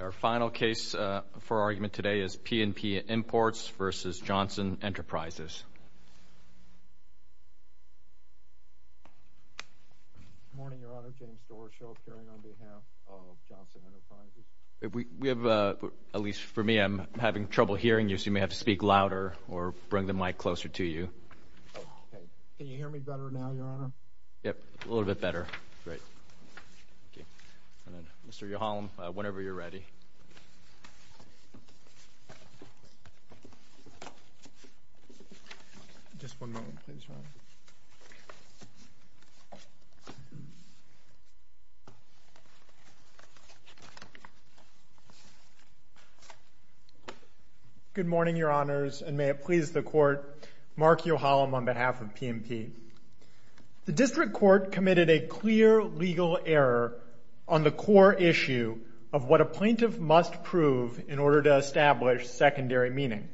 Our final case for argument today is P and P Imports v. Johnson Enterprises. Good morning, Your Honor. James Doroshow appearing on behalf of Johnson Enterprises. At least for me, I'm having trouble hearing you, so you may have to speak louder or bring the mic closer to you. Can you hear me better now, Your Honor? Yes, a little bit better. Mr. Yohalem, whenever you're ready. Just one moment, please, Your Honor. Good morning, Your Honors, and may it please the Court. Mark Yohalem on behalf of P and P. The District Court committed a clear legal error on the core issue of what a plaintiff must prove in order to establish secondary meaning.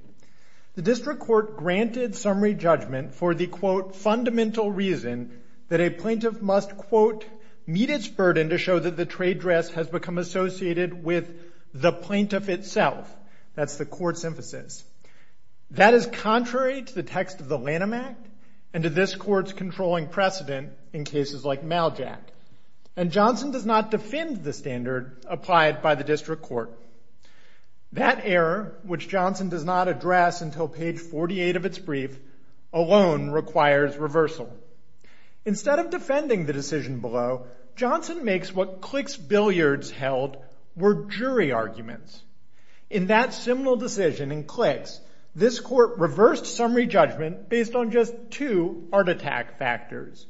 The District Court granted summary judgment for the, quote, fundamental reason that a plaintiff must, quote, meet its burden to show that the trade dress has become associated with the plaintiff itself. That's the Court's emphasis. That is contrary to the text of the Lanham Act and to this Court's controlling precedent in cases like Maljot. And Johnson does not defend the standard applied by the District Court. That error, which Johnson does not address until page 48 of its brief, alone requires reversal. Instead of defending the decision below, Johnson makes what Clicks Billiards held were jury arguments. In that seminal decision in Clicks, this Court reversed summary judgment based on just two art attack factors,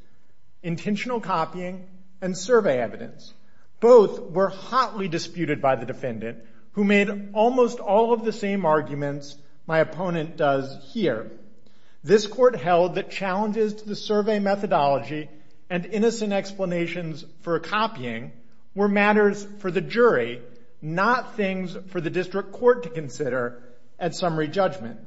intentional copying and survey evidence. Both were hotly disputed by the defendant, who made almost all of the same arguments my opponent does here. This Court held that challenges to the survey methodology and innocent explanations for copying were matters for the jury, not things for the District Court to consider at summary judgment.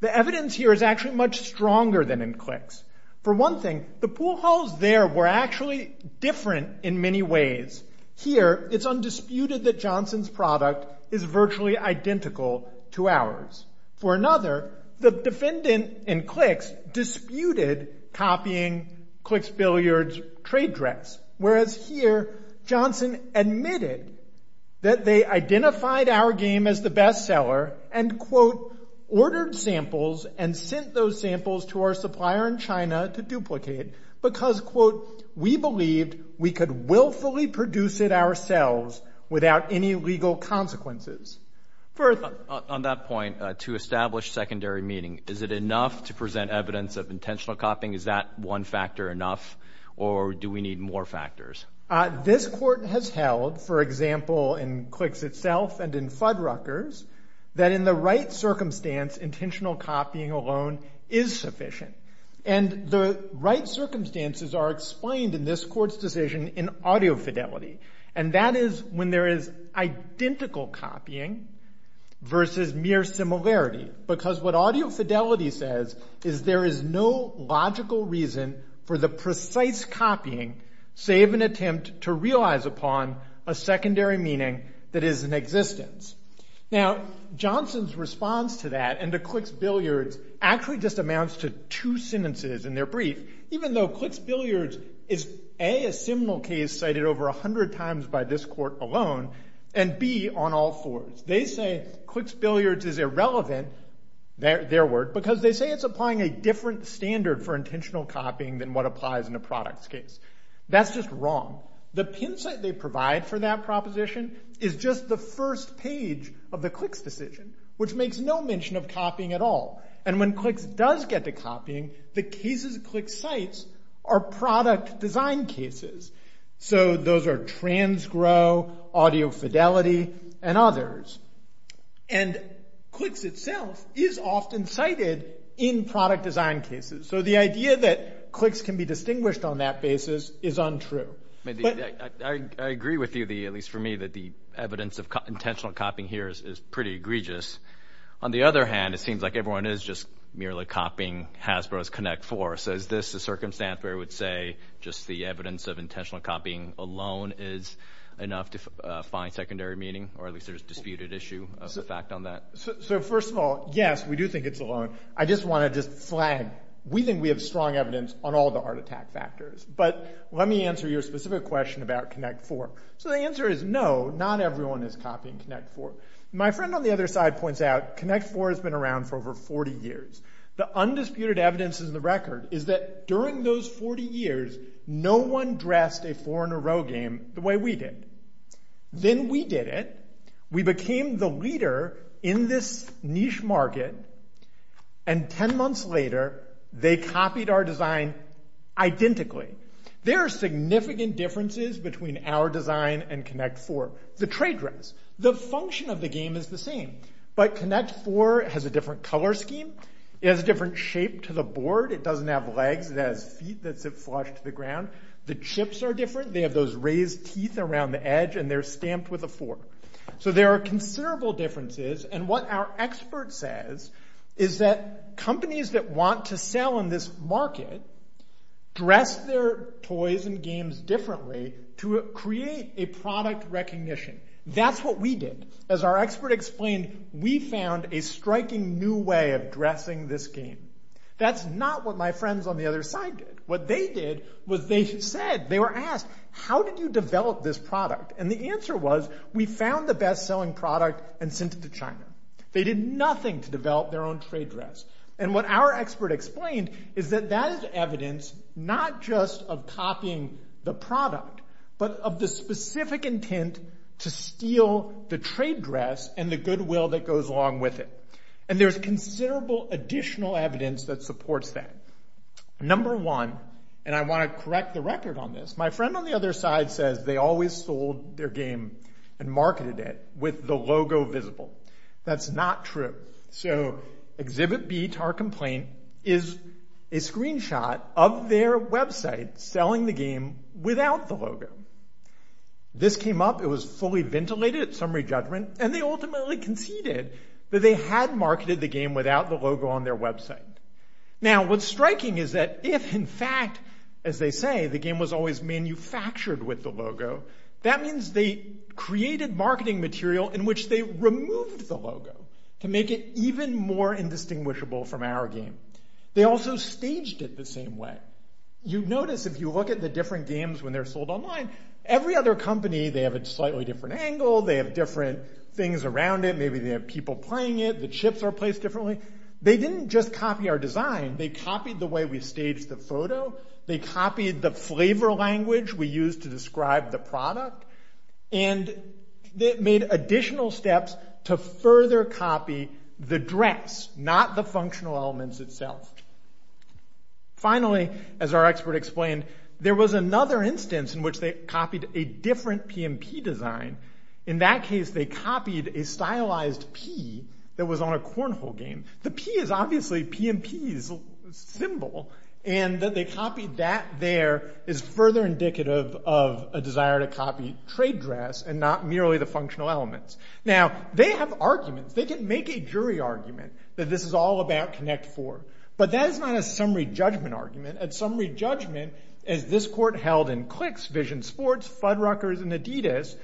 The evidence here is actually much stronger than in Clicks. For one thing, the pool halls there were actually different in many ways. Here, it's undisputed that Johnson's product is virtually identical to ours. For another, the defendant in Clicks disputed copying Clicks Billiards' trade dress, whereas here, Johnson admitted that they identified our game as the best seller and, quote, ordered samples and sent those samples to our supplier in China to duplicate because, quote, we believed we could willfully produce it ourselves without any legal consequences. First. On that point, to establish secondary meaning, is it enough to present evidence of intentional copying? Is that one factor enough, or do we need more factors? This Court has held, for example, in Clicks itself and in Fuddruckers, that in the right circumstance, intentional copying alone is sufficient, and the right circumstances are explained in this Court's decision in audio fidelity, and that is when there is identical copying versus mere similarity because what audio fidelity says is there is no logical reason for the precise copying, save an attempt to realize upon a secondary meaning that is in existence. Now, Johnson's response to that and to Clicks Billiards actually just amounts to two sentences in their brief, even though Clicks Billiards is, A, a seminal case cited over 100 times by this Court alone, and, B, on all fours. They say Clicks Billiards is irrelevant, their word, because they say it's applying a different standard for intentional copying than what applies in a products case. That's just wrong. The pin site they provide for that proposition is just the first page of the Clicks decision, which makes no mention of copying at all. And when Clicks does get to copying, the cases Clicks cites are product design cases. So those are transgrow, audio fidelity, and others. And Clicks itself is often cited in product design cases. So the idea that Clicks can be distinguished on that basis is untrue. I agree with you, at least for me, that the evidence of intentional copying here is pretty egregious. On the other hand, it seems like everyone is just merely copying Hasbro's Connect Four. So is this a circumstance where I would say just the evidence of intentional copying alone is enough to find secondary meaning, or at least there's a disputed issue of the fact on that? So first of all, yes, we do think it's alone. I just want to just flag we think we have strong evidence on all the heart attack factors. But let me answer your specific question about Connect Four. So the answer is no, not everyone is copying Connect Four. My friend on the other side points out Connect Four has been around for over 40 years. The undisputed evidence in the record is that during those 40 years, no one dressed a four-in-a-row game the way we did. Then we did it. We became the leader in this niche market. And 10 months later, they copied our design identically. There are significant differences between our design and Connect Four. The trade dress, the function of the game is the same. But Connect Four has a different color scheme. It has a different shape to the board. It doesn't have legs. It has feet that sit flush to the ground. The chips are different. They have those raised teeth around the edge, and they're stamped with a four. So there are considerable differences. And what our expert says is that companies that want to sell in this market dress their toys and games differently to create a product recognition. That's what we did. As our expert explained, we found a striking new way of dressing this game. That's not what my friends on the other side did. What they did was they said, they were asked, how did you develop this product? And the answer was, we found the best-selling product and sent it to China. They did nothing to develop their own trade dress. And what our expert explained is that that is evidence not just of copying the trade dress and the goodwill that goes along with it. And there's considerable additional evidence that supports that. Number one, and I want to correct the record on this, my friend on the other side says they always sold their game and marketed it with the logo visible. That's not true. So Exhibit B, to our complaint, is a screenshot of their website selling the game without the logo. This came up, it was fully ventilated at summary judgment, and they ultimately conceded that they had marketed the game without the logo on their website. Now, what's striking is that if, in fact, as they say, the game was always manufactured with the logo, that means they created marketing material in which they removed the logo to make it even more indistinguishable from our game. They also staged it the same way. You notice if you look at the different games when they're sold online, every other company, they have a slightly different angle, they have different things around it, maybe they have people playing it, the chips are placed differently. They didn't just copy our design, they copied the way we staged the photo, they copied the flavor language we used to describe the product, and they made additional steps to further copy the dress, not the functional elements itself. Finally, as our expert explained, there was another instance in which they copied a different P&P design. In that case, they copied a stylized P that was on a cornhole game. The P is obviously P&P's symbol, and that they copied that there is further indicative of a desire to copy trade dress and not merely the functional elements. Now, they have arguments, they can make a jury argument that this is all about Connect Four. But that is not a summary judgment argument. At summary judgment, as this court held in Clix, Vision Sports, Fudruckers, and Adidas,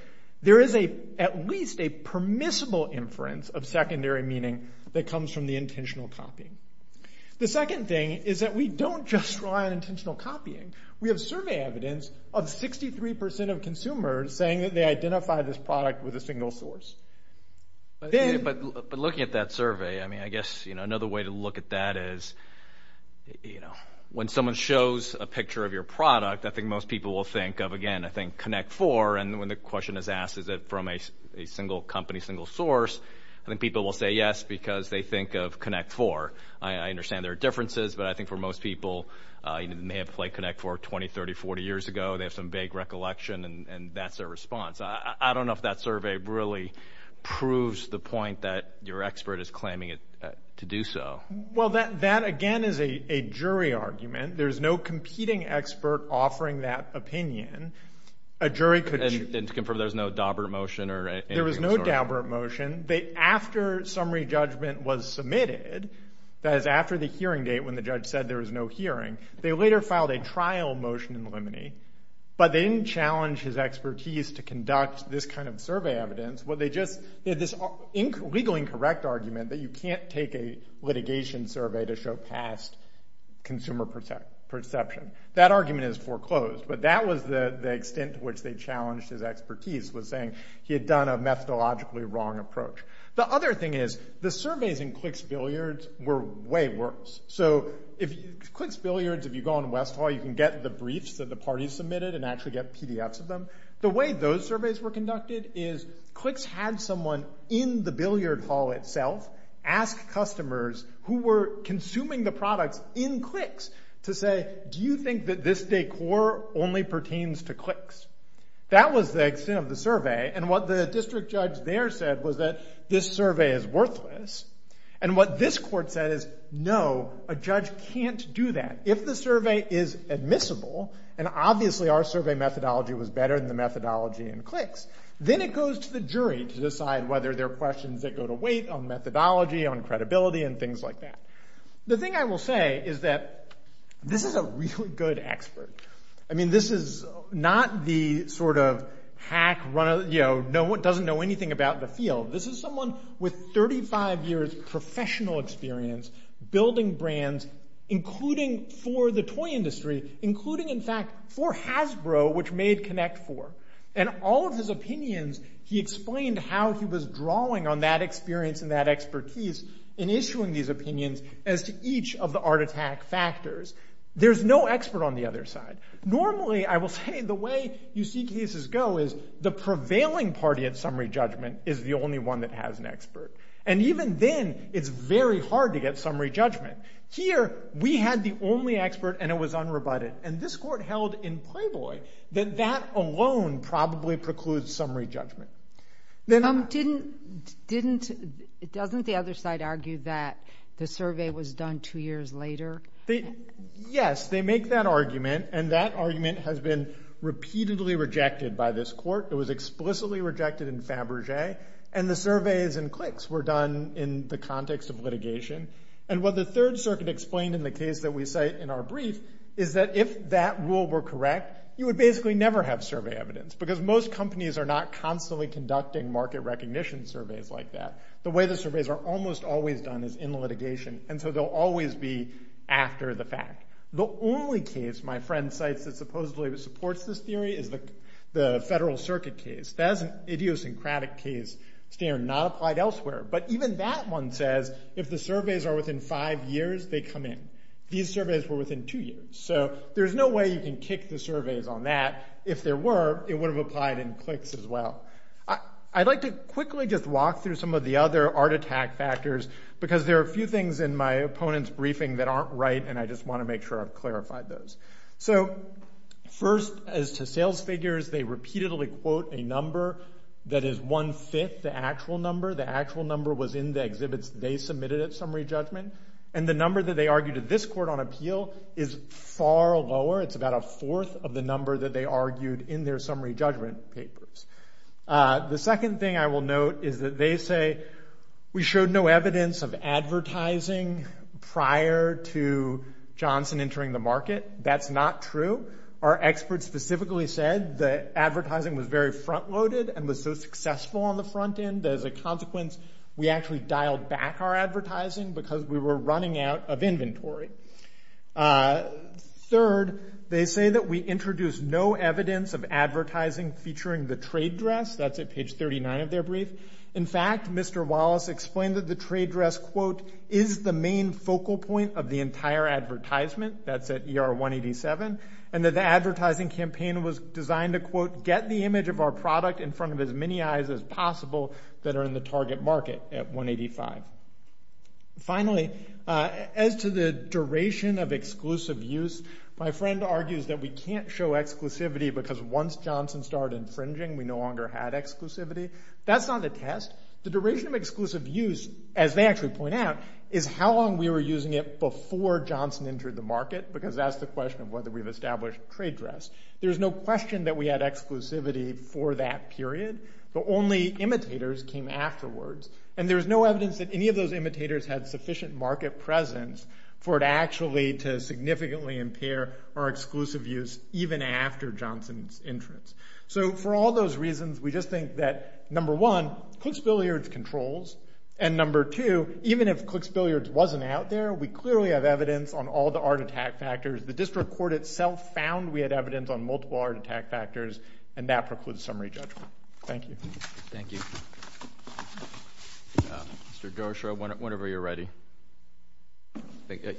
there is at least a permissible inference of secondary meaning that comes from the intentional copying. The second thing is that we don't just rely on intentional copying. We have survey evidence of 63% of consumers saying that they identified this product with a single source. But looking at that survey, I mean, I guess, you know, another way to look at that is, you know, when someone shows a picture of your product, I think most people will think of, again, I think, Connect Four. And when the question is asked, is it from a single company, a single source, I think people will say yes because they think of Connect Four. I understand there are differences, but I think for most people, they may have played Connect Four 20, 30, 40 years ago. They have some vague recollection, and that's their response. I don't know if that survey really proves the point that your expert is claiming to do so. Well, that, again, is a jury argument. There's no competing expert offering that opinion. And to confirm, there's no Daubert motion or anything of the sort? There is no Daubert motion. After summary judgment was submitted, that is after the hearing date when the judge said there was no hearing, they later filed a trial motion in limine, but they didn't challenge his expertise to conduct this kind of survey evidence. They had this legally incorrect argument that you can't take a litigation survey to show past consumer perception. That argument is foreclosed, but that was the extent to which they challenged his expertise was saying he had done a methodologically wrong approach. The other thing is the surveys in Clicks Billiards were way worse. So, Clicks Billiards, if you go on West Hall, you can get the briefs that the parties submitted and actually get PDFs of them. The way those surveys were conducted is Clicks had someone in the billiard hall itself ask customers who were consuming the products in Clicks to say, do you think that this decor only pertains to Clicks? That was the extent of the survey, and what the district judge there said was that this survey is worthless. And what this court said is, no, a judge can't do that. If the survey is admissible, and obviously our survey methodology was better than the methodology in Clicks, then it goes to the jury to decide whether there are questions that go to weight on methodology, on credibility, and things like that. The thing I will say is that this is a really good expert. I mean, this is not the sort of hack runner that doesn't know anything about the field. This is someone with 35 years professional experience building brands, including for the toy industry, including, in fact, for Hasbro, which made Connect Four. And all of his opinions, he explained how he was drawing on that experience and that expertise in issuing these opinions as to each of the art attack factors. There's no expert on the other side. Normally, I will say, the way you see cases go is And even then, it's very hard to get summary judgment. Here, we had the only expert, and it was unrebutted. And this court held in Playboy that that alone probably precludes summary judgment. Didn't... Doesn't the other side argue that the survey was done two years later? Yes, they make that argument, and that argument has been repeatedly rejected by this court. It was explicitly rejected in Fabergé. And the surveys and clicks were done in the context of litigation. And what the Third Circuit explained in the case that we cite in our brief is that if that rule were correct, you would basically never have survey evidence because most companies are not constantly conducting market recognition surveys like that. The way the surveys are almost always done is in litigation, and so they'll always be after the fact. The only case my friend cites that supposedly supports this theory is the Federal Circuit case. That is an idiosyncratic case standard not applied elsewhere. But even that one says if the surveys are within five years, they come in. These surveys were within two years. So there's no way you can kick the surveys on that. If there were, it would have applied in clicks as well. I'd like to quickly just walk through some of the other art attack factors because there are a few things in my opponent's briefing that aren't right, and I just want to make sure I've clarified those. So first, as to sales figures, they repeatedly quote a number that is one-fifth the actual number. The actual number was in the exhibits they submitted at summary judgment. And the number that they argued at this court on appeal is far lower. It's about a fourth of the number that they argued in their summary judgment papers. The second thing I will note is that they say we showed no evidence of advertising prior to Johnson entering the market. That's not true. Our experts specifically said the advertising was very front-loaded and was so successful on the front end that as a consequence we actually dialed back our advertising because we were running out of inventory. Third, they say that we introduced no evidence of advertising featuring the trade dress. That's at page 39 of their brief. In fact, Mr. Wallace explained that the trade dress, quote, is the main focal point of the entire advertisement. That's at ER 187. And that the advertising campaign was designed to, quote, get the image of our product in front of as many eyes as possible that are in the target market at 185. Finally, as to the duration of exclusive use, my friend argues that we can't show exclusivity because once Johnson started infringing, we no longer had exclusivity. That's not the test. The duration of exclusive use, as they actually point out, is how long we were using it before Johnson entered the market because that's the question of whether we've established trade dress. There's no question that we had exclusivity for that period, but only imitators came afterwards. And there's no evidence that any of those imitators had sufficient market presence for it actually to significantly impair our exclusive use even after Johnson's entrance. So for all those reasons, we just think that, number one, Clicks Billiards controls, and, number two, even if Clicks Billiards wasn't out there, we clearly have evidence on all the art attack factors. The district court itself found we had evidence on multiple art attack factors, and that precludes summary judgment. Thank you. Thank you. Mr. Dershow, whenever you're ready.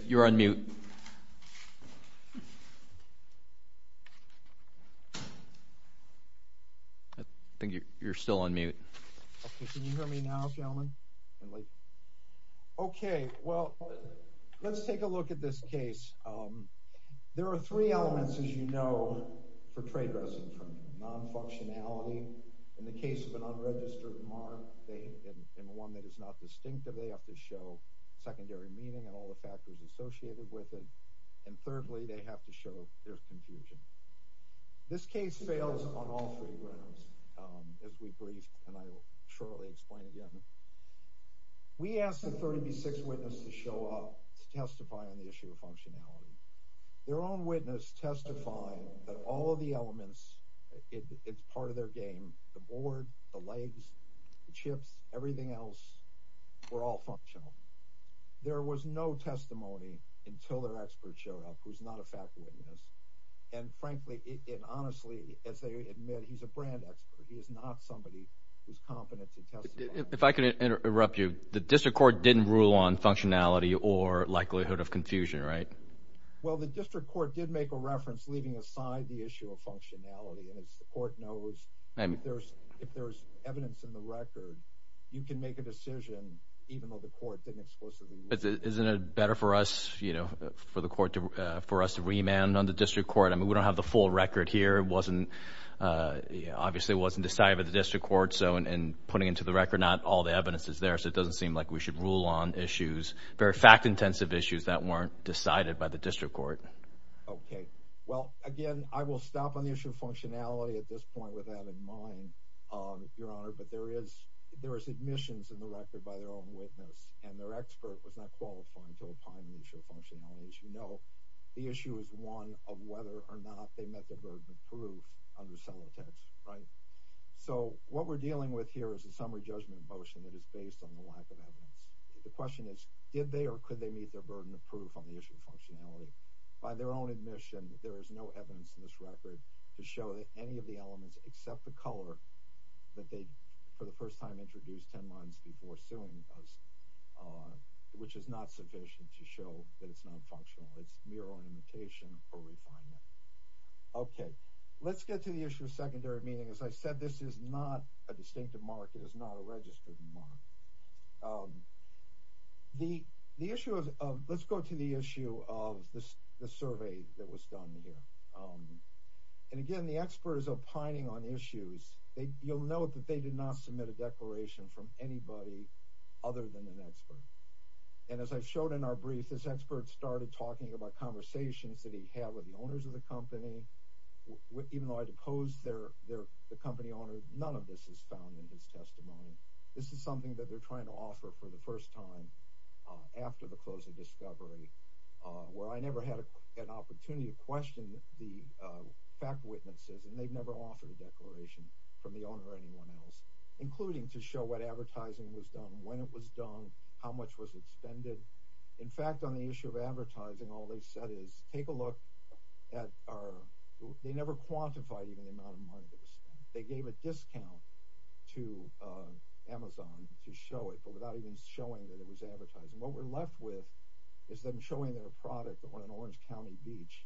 You're on mute. Thank you. I think you're still on mute. Can you hear me now, gentlemen? Okay. Well, let's take a look at this case. There are three elements, as you know, for trade dress in terms of non-functionality. In the case of an unregistered mark and one that is not distinctive, they have to show secondary meaning and all the factors associated with it, and, thirdly, they have to show their confusion. This case fails on all three grounds, as we briefed, and I will shortly explain again. We asked the 36 witnesses to show up to testify on the issue of functionality. Their own witness testified that all of the elements, it's part of their game, the board, the legs, the chips, everything else were all functional. There was no testimony until their expert showed up, who's not a faculty witness, and frankly and honestly, as they admit, he's a brand expert. He is not somebody who's competent to testify. If I could interrupt you, the district court didn't rule on functionality or likelihood of confusion, right? Well, the district court did make a reference leaving aside the issue of functionality, and as the court knows, if there's evidence in the record, you can make a decision, even though the court didn't explicitly use it. Isn't it better for us, you know, for the court to, for us to remand on the district court? I mean, we don't have the full record here. It wasn't, obviously it wasn't decided by the district court, so in putting it to the record, not all the evidence is there, so it doesn't seem like we should rule on issues, very fact-intensive issues that weren't decided by the district court. Okay. Well, again, I will stop on the issue of functionality at this point with that in mind, Your Honor, but there is, there is admissions in the record by their own witness, and their expert was not qualified to opine on the issue of functionality. As you know, the issue is one of whether or not they met the burden of proof under cellotapes, right? So, what we're dealing with here is a summary judgment motion that is based on the lack of evidence. The question is, did they or could they meet their burden of proof on the issue of functionality? By their own admission, there is no evidence in this record to show that any of the elements, except the color that they, for the first time, introduced 10 months before suing us, which is not sufficient to show that it's not functional. It's merely an indication for refinement. Okay. Let's get to the issue of secondary meaning. As I said, this is not a distinctive mark. It is not a registered mark. The issue of, let's go to the issue of the survey that was done here. And again, the experts opining on issues, you'll note that they did not submit a declaration from anybody other than an expert. And as I showed in our brief, this expert started talking about conversations that he had with the owners of the company. Even though I deposed the company owners, none of this is found in his testimony. This is something that they're trying to offer for the first time after the close of discovery, where I never had an opportunity to question the fact witnesses, and they've never offered a declaration from the owner or anyone else, including to show what advertising was done, when it was done, how much was expended. In fact, on the issue of advertising, all they said is, take a look at our, they never quantified even the amount of money that was spent. They gave a discount to Amazon to show it, but without even showing that it was advertising. What we're left with is them showing their product on an Orange County beach,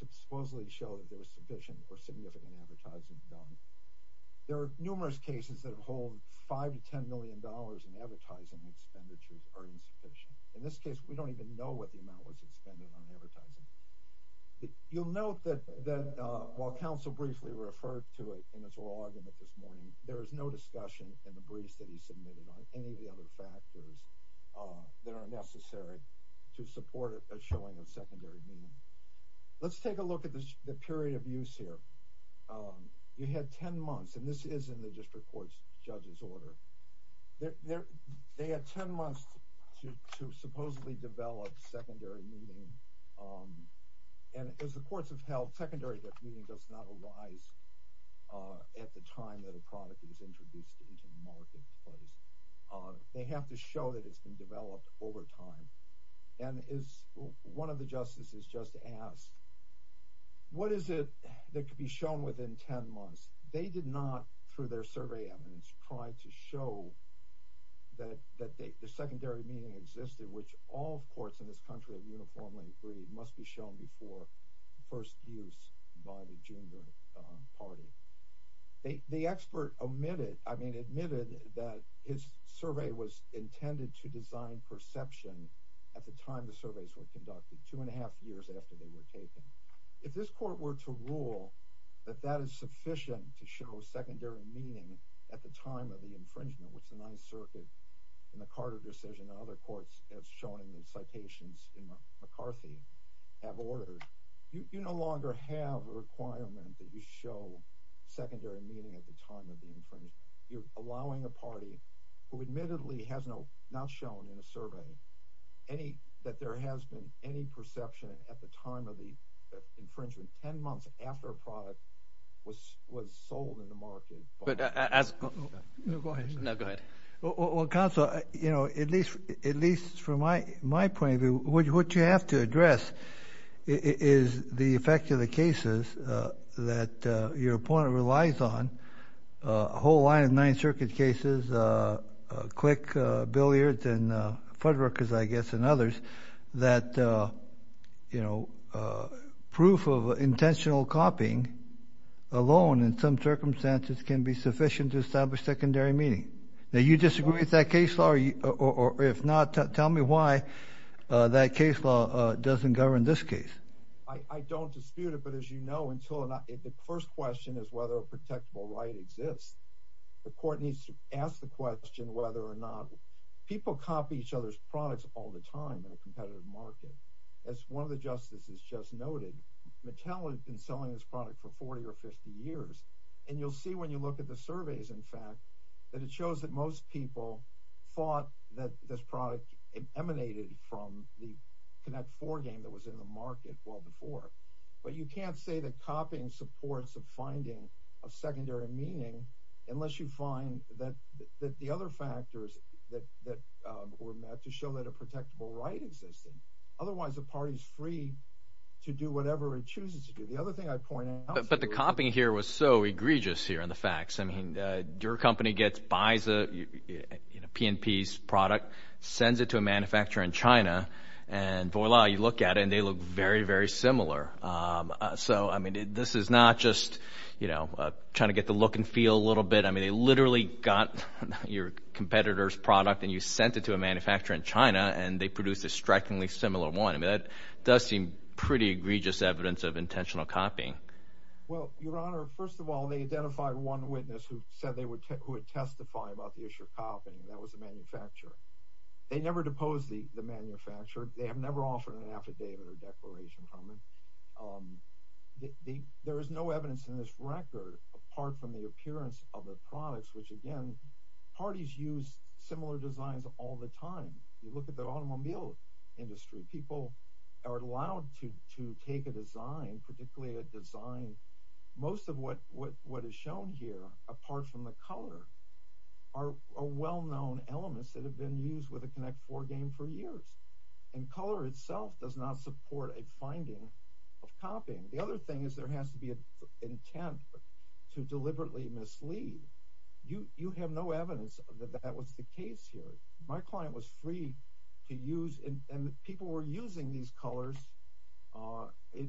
supposedly to show that there was sufficient or significant advertising done. There are numerous cases that hold $5 to $10 million in advertising expenditures are insufficient. In this case, we don't even know what the amount was expended on advertising. You'll note that while counsel briefly referred to it in his oral argument this morning, there is no discussion in the briefs that he submitted on any of the other factors that are necessary to support a showing of secondary meaning. Let's take a look at the period of use here. We had 10 months, and this is in the district court's judge's order. They had 10 months to supposedly develop secondary meaning. As the courts have held, secondary meaning does not arise at the time that a product is introduced into the marketplace. They have to show that it's been developed over time. One of the justices just asked, what is it that could be shown within 10 months? They did not, through their survey evidence, try to show that the secondary meaning existed, which all courts in this country have uniformly agreed must be shown before first use by the junior party. The expert admitted that his survey was intended to design perception at the time the surveys were conducted, two and a half years after they were taken. If this court were to rule that that is sufficient to show secondary meaning at the time of the infringement, which the Ninth Circuit in the Carter decision and other courts, as shown in the citations in McCarthy, have ordered, you no longer have a requirement that you show secondary meaning at the time of the infringement. You're allowing a party who admittedly has not shown in a survey that there has been any perception at the time of the infringement, 10 months after a product was sold in the market. But as – no, go ahead. No, go ahead. Well, counsel, you know, at least from my point of view, what you have to address is the effect of the cases that your opponent relies on, a whole line of Ninth Circuit cases, Click, Billiards, and Fuddruckers, I guess, and others, that, you know, proof of intentional copying alone in some circumstances can be sufficient to establish secondary meaning. Now, you disagree with that case law, or if not, tell me why that case law doesn't govern this case. I don't dispute it, but as you know, until – the first question is whether a protectable right exists. The court needs to ask the question whether or not – people copy each other's products all the time in a competitive market. As one of the justices just noted, Mattel has been selling this product for 40 or 50 years, and you'll see when you look at the surveys, in fact, that it shows that most people thought that this product emanated from the Connect Four game that was in the market well before. But you can't say that copying supports a finding of secondary meaning unless you find that the other factors that were met to show that a protectable right existed. Otherwise, the party is free to do whatever it chooses to do. The other thing I'd point out is… and voila, you look at it, and they look very, very similar. So, I mean, this is not just trying to get the look and feel a little bit. I mean, they literally got your competitor's product, and you sent it to a manufacturer in China, and they produced a strikingly similar one. I mean, that does seem pretty egregious evidence of intentional copying. Well, Your Honor, first of all, they identified one witness who said they would testify about the issue of copying, and that was the manufacturer. They never deposed the manufacturer. They have never offered an affidavit or a declaration from them. There is no evidence in this record, apart from the appearance of the products, which, again, parties use similar designs all the time. You look at the automobile industry, people are allowed to take a design, particularly a design… apart from the color, are well-known elements that have been used with a Connect4 game for years, and color itself does not support a finding of copying. The other thing is there has to be an intent to deliberately mislead. You have no evidence that that was the case here. My client was free to use, and people were using these colors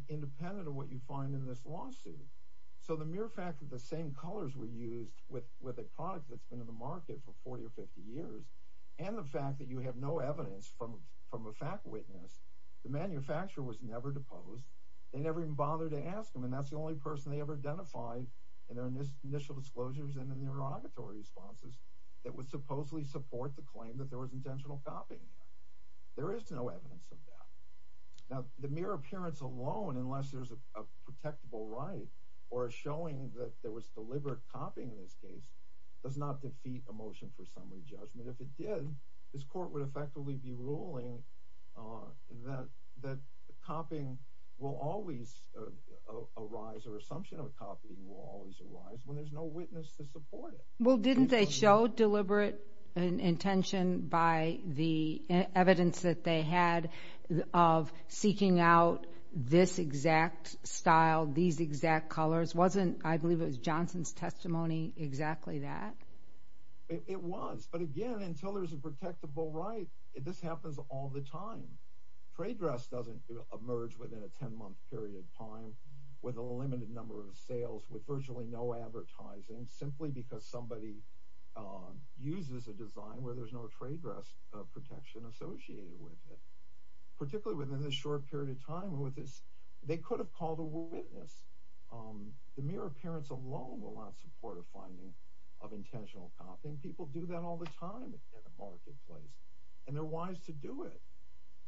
independent of what you find in this lawsuit. So the mere fact that the same colors were used with a product that's been in the market for 40 or 50 years, and the fact that you have no evidence from a fact witness, the manufacturer was never deposed. They never even bothered to ask them, and that's the only person they ever identified in their initial disclosures and in their auditory responses that would supposedly support the claim that there was intentional copying. There is no evidence of that. Now, the mere appearance alone, unless there's a protectable right or a showing that there was deliberate copying in this case, does not defeat a motion for summary judgment. If it did, this court would effectively be ruling that copying will always arise, or assumption of copying will always arise, when there's no witness to support it. Well, didn't they show deliberate intention by the evidence that they had of seeking out this exact style, these exact colors? Wasn't, I believe it was Johnson's testimony, exactly that? It was, but again, until there's a protectable right, this happens all the time. Trade dress doesn't emerge within a 10-month period of time with a limited number of sales, with virtually no advertising, simply because somebody uses a design where there's no trade dress protection associated with it. Particularly within this short period of time, they could have called a witness. The mere appearance alone will not support a finding of intentional copying. People do that all the time in the marketplace, and they're wise to do it.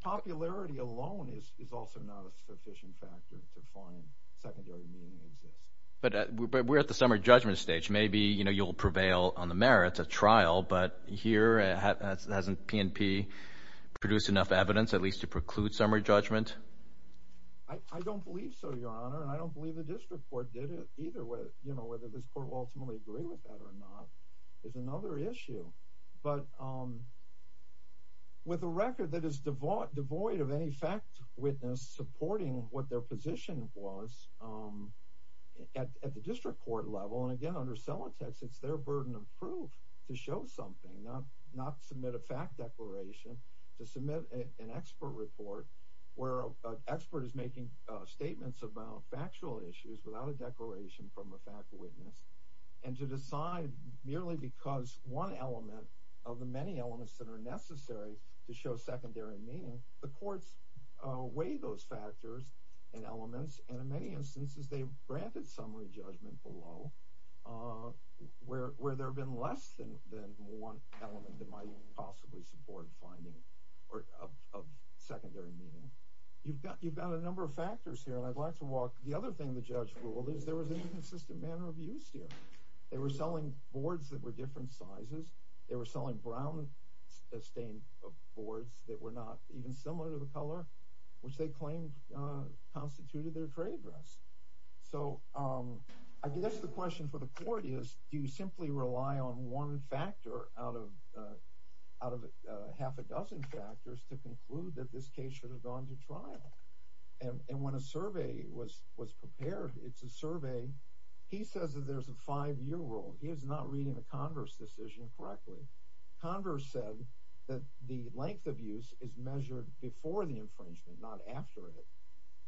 Popularity alone is also not a sufficient factor to find secondary meaning exists. But we're at the summary judgment stage. Maybe you'll prevail on the merits of trial, but here, hasn't PNP produced enough evidence at least to preclude summary judgment? I don't believe so, Your Honor, and I don't believe the district court did it either. Whether this court will ultimately agree with that or not is another issue. But with a record that is devoid of any fact witness supporting what their position was at the district court level, and again, under Celotex, it's their burden of proof to show something, not submit a fact declaration, to submit an expert report where an expert is making statements about factual issues without a declaration from a fact witness, and to decide merely because one element of the many elements that are necessary to show secondary meaning. The courts weigh those factors and elements, and in many instances, they've granted summary judgment below, where there have been less than one element that might possibly support finding of secondary meaning. You've got a number of factors here, and I'd like to walk. The other thing the judge ruled is there was an inconsistent manner of use here. They were selling boards that were different sizes. They were selling brown-stained boards that were not even similar to the color, which they claimed constituted their trade rest. So I guess the question for the court is, do you simply rely on one factor out of half a dozen factors to conclude that this case should have gone to trial? And when a survey was prepared, it's a survey. He says that there's a five-year rule. He is not reading the Converse decision correctly. Converse said that the length of use is measured before the infringement, not after it.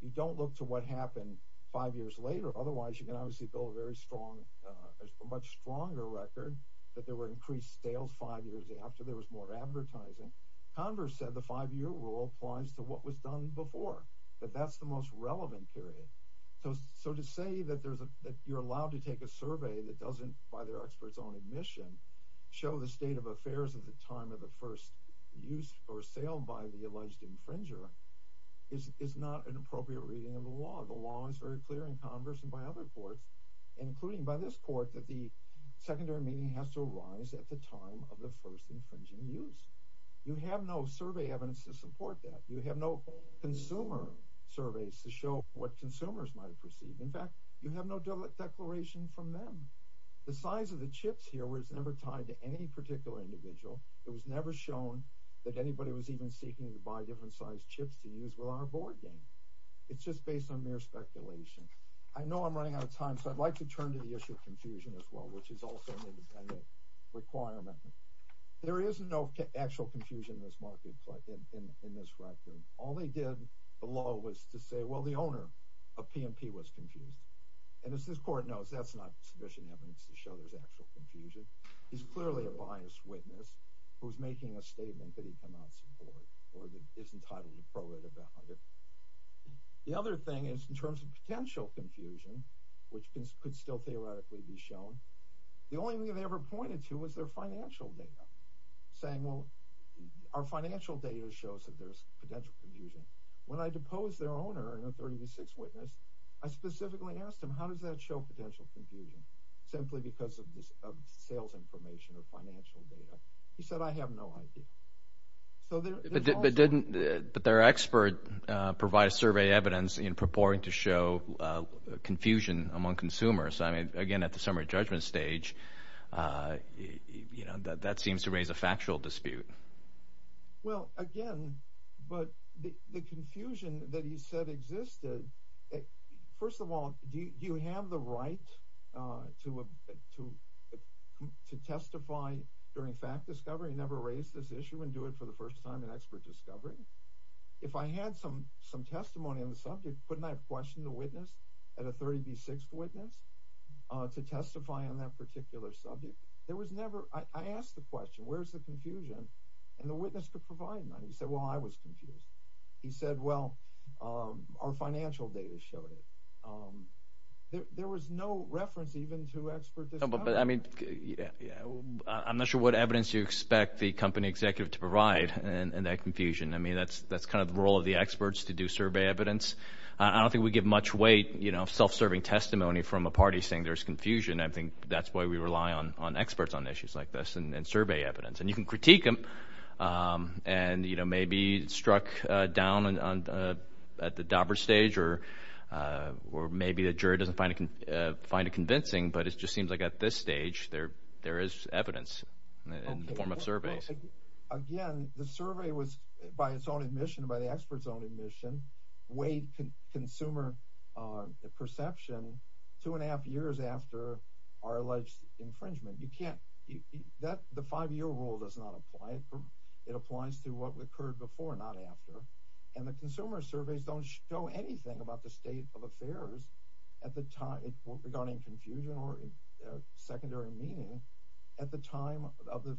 You don't look to what happened five years later. Otherwise, you can obviously build a much stronger record that there were increased sales five years after there was more advertising. Converse said the five-year rule applies to what was done before, that that's the most relevant period. So to say that you're allowed to take a survey that doesn't, by their experts' own admission, show the state of affairs at the time of the first use or sale by the alleged infringer is not an appropriate reading of the law. The law is very clear in Converse and by other courts, including by this court, that the secondary meaning has to arise at the time of the first infringing use. You have no survey evidence to support that. You have no consumer surveys to show what consumers might have perceived. In fact, you have no declaration from them. The size of the chips here was never tied to any particular individual. It was never shown that anybody was even seeking to buy different sized chips to use with our board game. It's just based on mere speculation. I know I'm running out of time, so I'd like to turn to the issue of confusion as well, which is also an independent requirement. There is no actual confusion in this record. All they did, the law, was to say, well, the owner of P&P was confused. And as this court knows, that's not sufficient evidence to show there's actual confusion. He's clearly a biased witness who's making a statement that he cannot support or that isn't tied to the pro-redundant. The other thing is in terms of potential confusion, which could still theoretically be shown, the only thing they ever pointed to was their financial data. Saying, well, our financial data shows that there's potential confusion. When I deposed their owner and a 36 witness, I specifically asked him, how does that show potential confusion? Simply because of sales information or financial data. He said, I have no idea. But didn't their expert provide a survey evidence in purporting to show confusion among consumers? I mean, again, at the summary judgment stage, that seems to raise a factual dispute. Well, again, but the confusion that he said existed, first of all, do you have the right to testify during fact discovery and never raise this issue and do it for the first time in expert discovery? If I had some testimony on the subject, couldn't I have questioned the witness and a 36 witness to testify on that particular subject? There was never – I asked the question, where's the confusion? And the witness could provide none. He said, well, I was confused. He said, well, our financial data showed it. There was no reference even to expert discovery. But, I mean, I'm not sure what evidence you expect the company executive to provide in that confusion. I mean, that's kind of the role of the experts to do survey evidence. I don't think we give much weight, you know, self-serving testimony from a party saying there's confusion. I think that's why we rely on experts on issues like this and survey evidence. And you can critique them and, you know, maybe struck down at the dauber stage or maybe the jury doesn't find it convincing. But it just seems like at this stage there is evidence in the form of surveys. Again, the survey was, by its own admission, by the expert's own admission, weighed consumer perception two and a half years after our alleged infringement. You can't – the five-year rule does not apply. It applies to what occurred before, not after. And the consumer surveys don't show anything about the state of affairs at the time – regarding confusion or secondary meaning at the time of the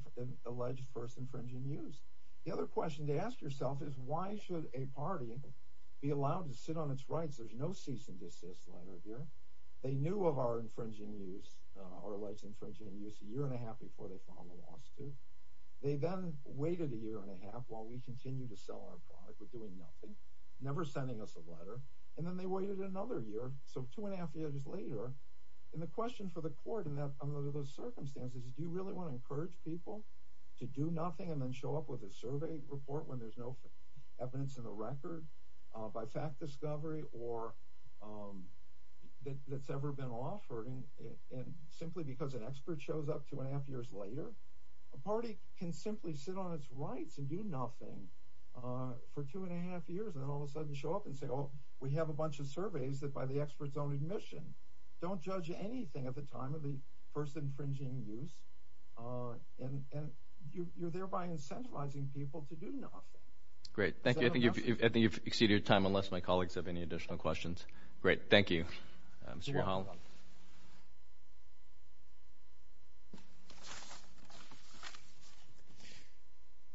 alleged first infringing use. The other question to ask yourself is why should a party be allowed to sit on its rights? There's no cease and desist letter here. They knew of our infringing use, our alleged infringing use, a year and a half before they filed a lawsuit. They then waited a year and a half while we continued to sell our product. We're doing nothing, never sending us a letter. And then they waited another year, so two and a half years later. And the question for the court under those circumstances is do you really want to encourage people to do nothing and then show up with a survey report when there's no evidence in the record by fact discovery or that's ever been offered? And simply because an expert shows up two and a half years later, a party can simply sit on its rights and do nothing for two and a half years and then all of a sudden show up and say, oh, we have a bunch of surveys that by the expert's own admission don't judge anything at the time of the first infringing use. And you're thereby incentivizing people to do nothing. Great. Thank you. I think you've exceeded your time unless my colleagues have any additional questions. Great. Thank you. Mr. Mahal.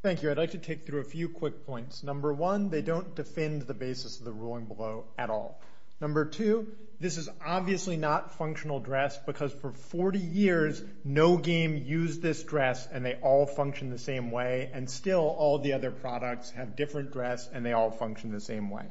Thank you. I'd like to take through a few quick points. Number one, they don't defend the basis of the ruling below at all. Number two, this is obviously not functional dress because for 40 years no game used this dress and they all function the same way. And still all the other products have different dress and they all function the same way.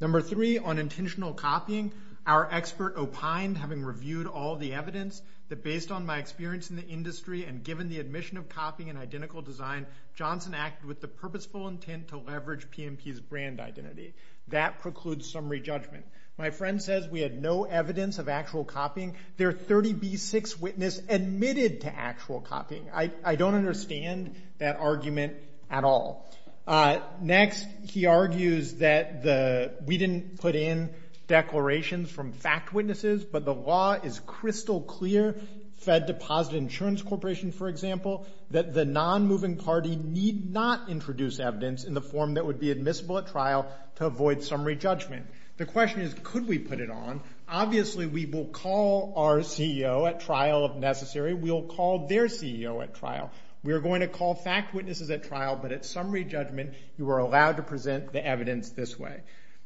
Number three, unintentional copying. Our expert opined having reviewed all the evidence that based on my experience in the industry and given the admission of copying and identical design, Johnson acted with the purposeful intent to leverage PMP's brand identity. That precludes summary judgment. My friend says we had no evidence of actual copying. There are 30B6 witness admitted to actual copying. I don't understand that argument at all. Next, he argues that we didn't put in declarations from fact witnesses, but the law is crystal clear. Fed Deposit Insurance Corporation, for example, that the non-moving party need not introduce evidence in the form that would be admissible at trial to avoid summary judgment. The question is could we put it on? Obviously, we will call our CEO at trial if necessary. We'll call their CEO at trial. We are going to call fact witnesses at trial, but at summary judgment, you are allowed to present the evidence this way.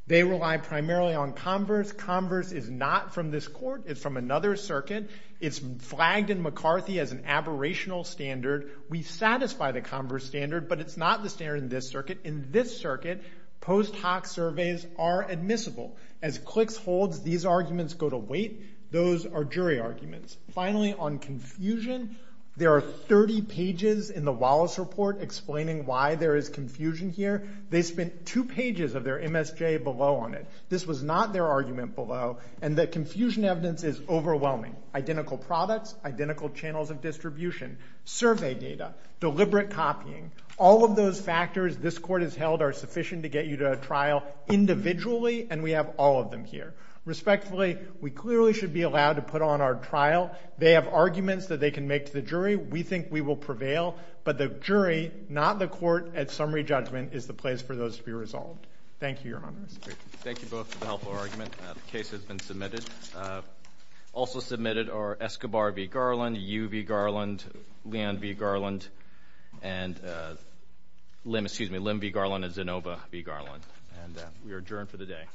They rely primarily on converse. Converse is not from this court. It's from another circuit. It's flagged in McCarthy as an aberrational standard. We satisfy the converse standard, but it's not the standard in this circuit. In this circuit, post hoc surveys are admissible. As cliques holds, these arguments go to weight. Those are jury arguments. Finally, on confusion, there are 30 pages in the Wallace Report explaining why there is confusion here. They spent two pages of their MSJ below on it. This was not their argument below, and the confusion evidence is overwhelming. Identical products, identical channels of distribution, survey data, deliberate copying. All of those factors this court has held are sufficient to get you to a trial individually, and we have all of them here. Respectfully, we clearly should be allowed to put on our trial. They have arguments that they can make to the jury. We think we will prevail, but the jury, not the court, at summary judgment is the place for those to be resolved. Thank you, Your Honor. Thank you both for the helpful argument. The case has been submitted. Also submitted are Escobar v. Garland, Yu v. Garland, Lim v. Garland, and Zinova v. Garland. We are adjourned for the day.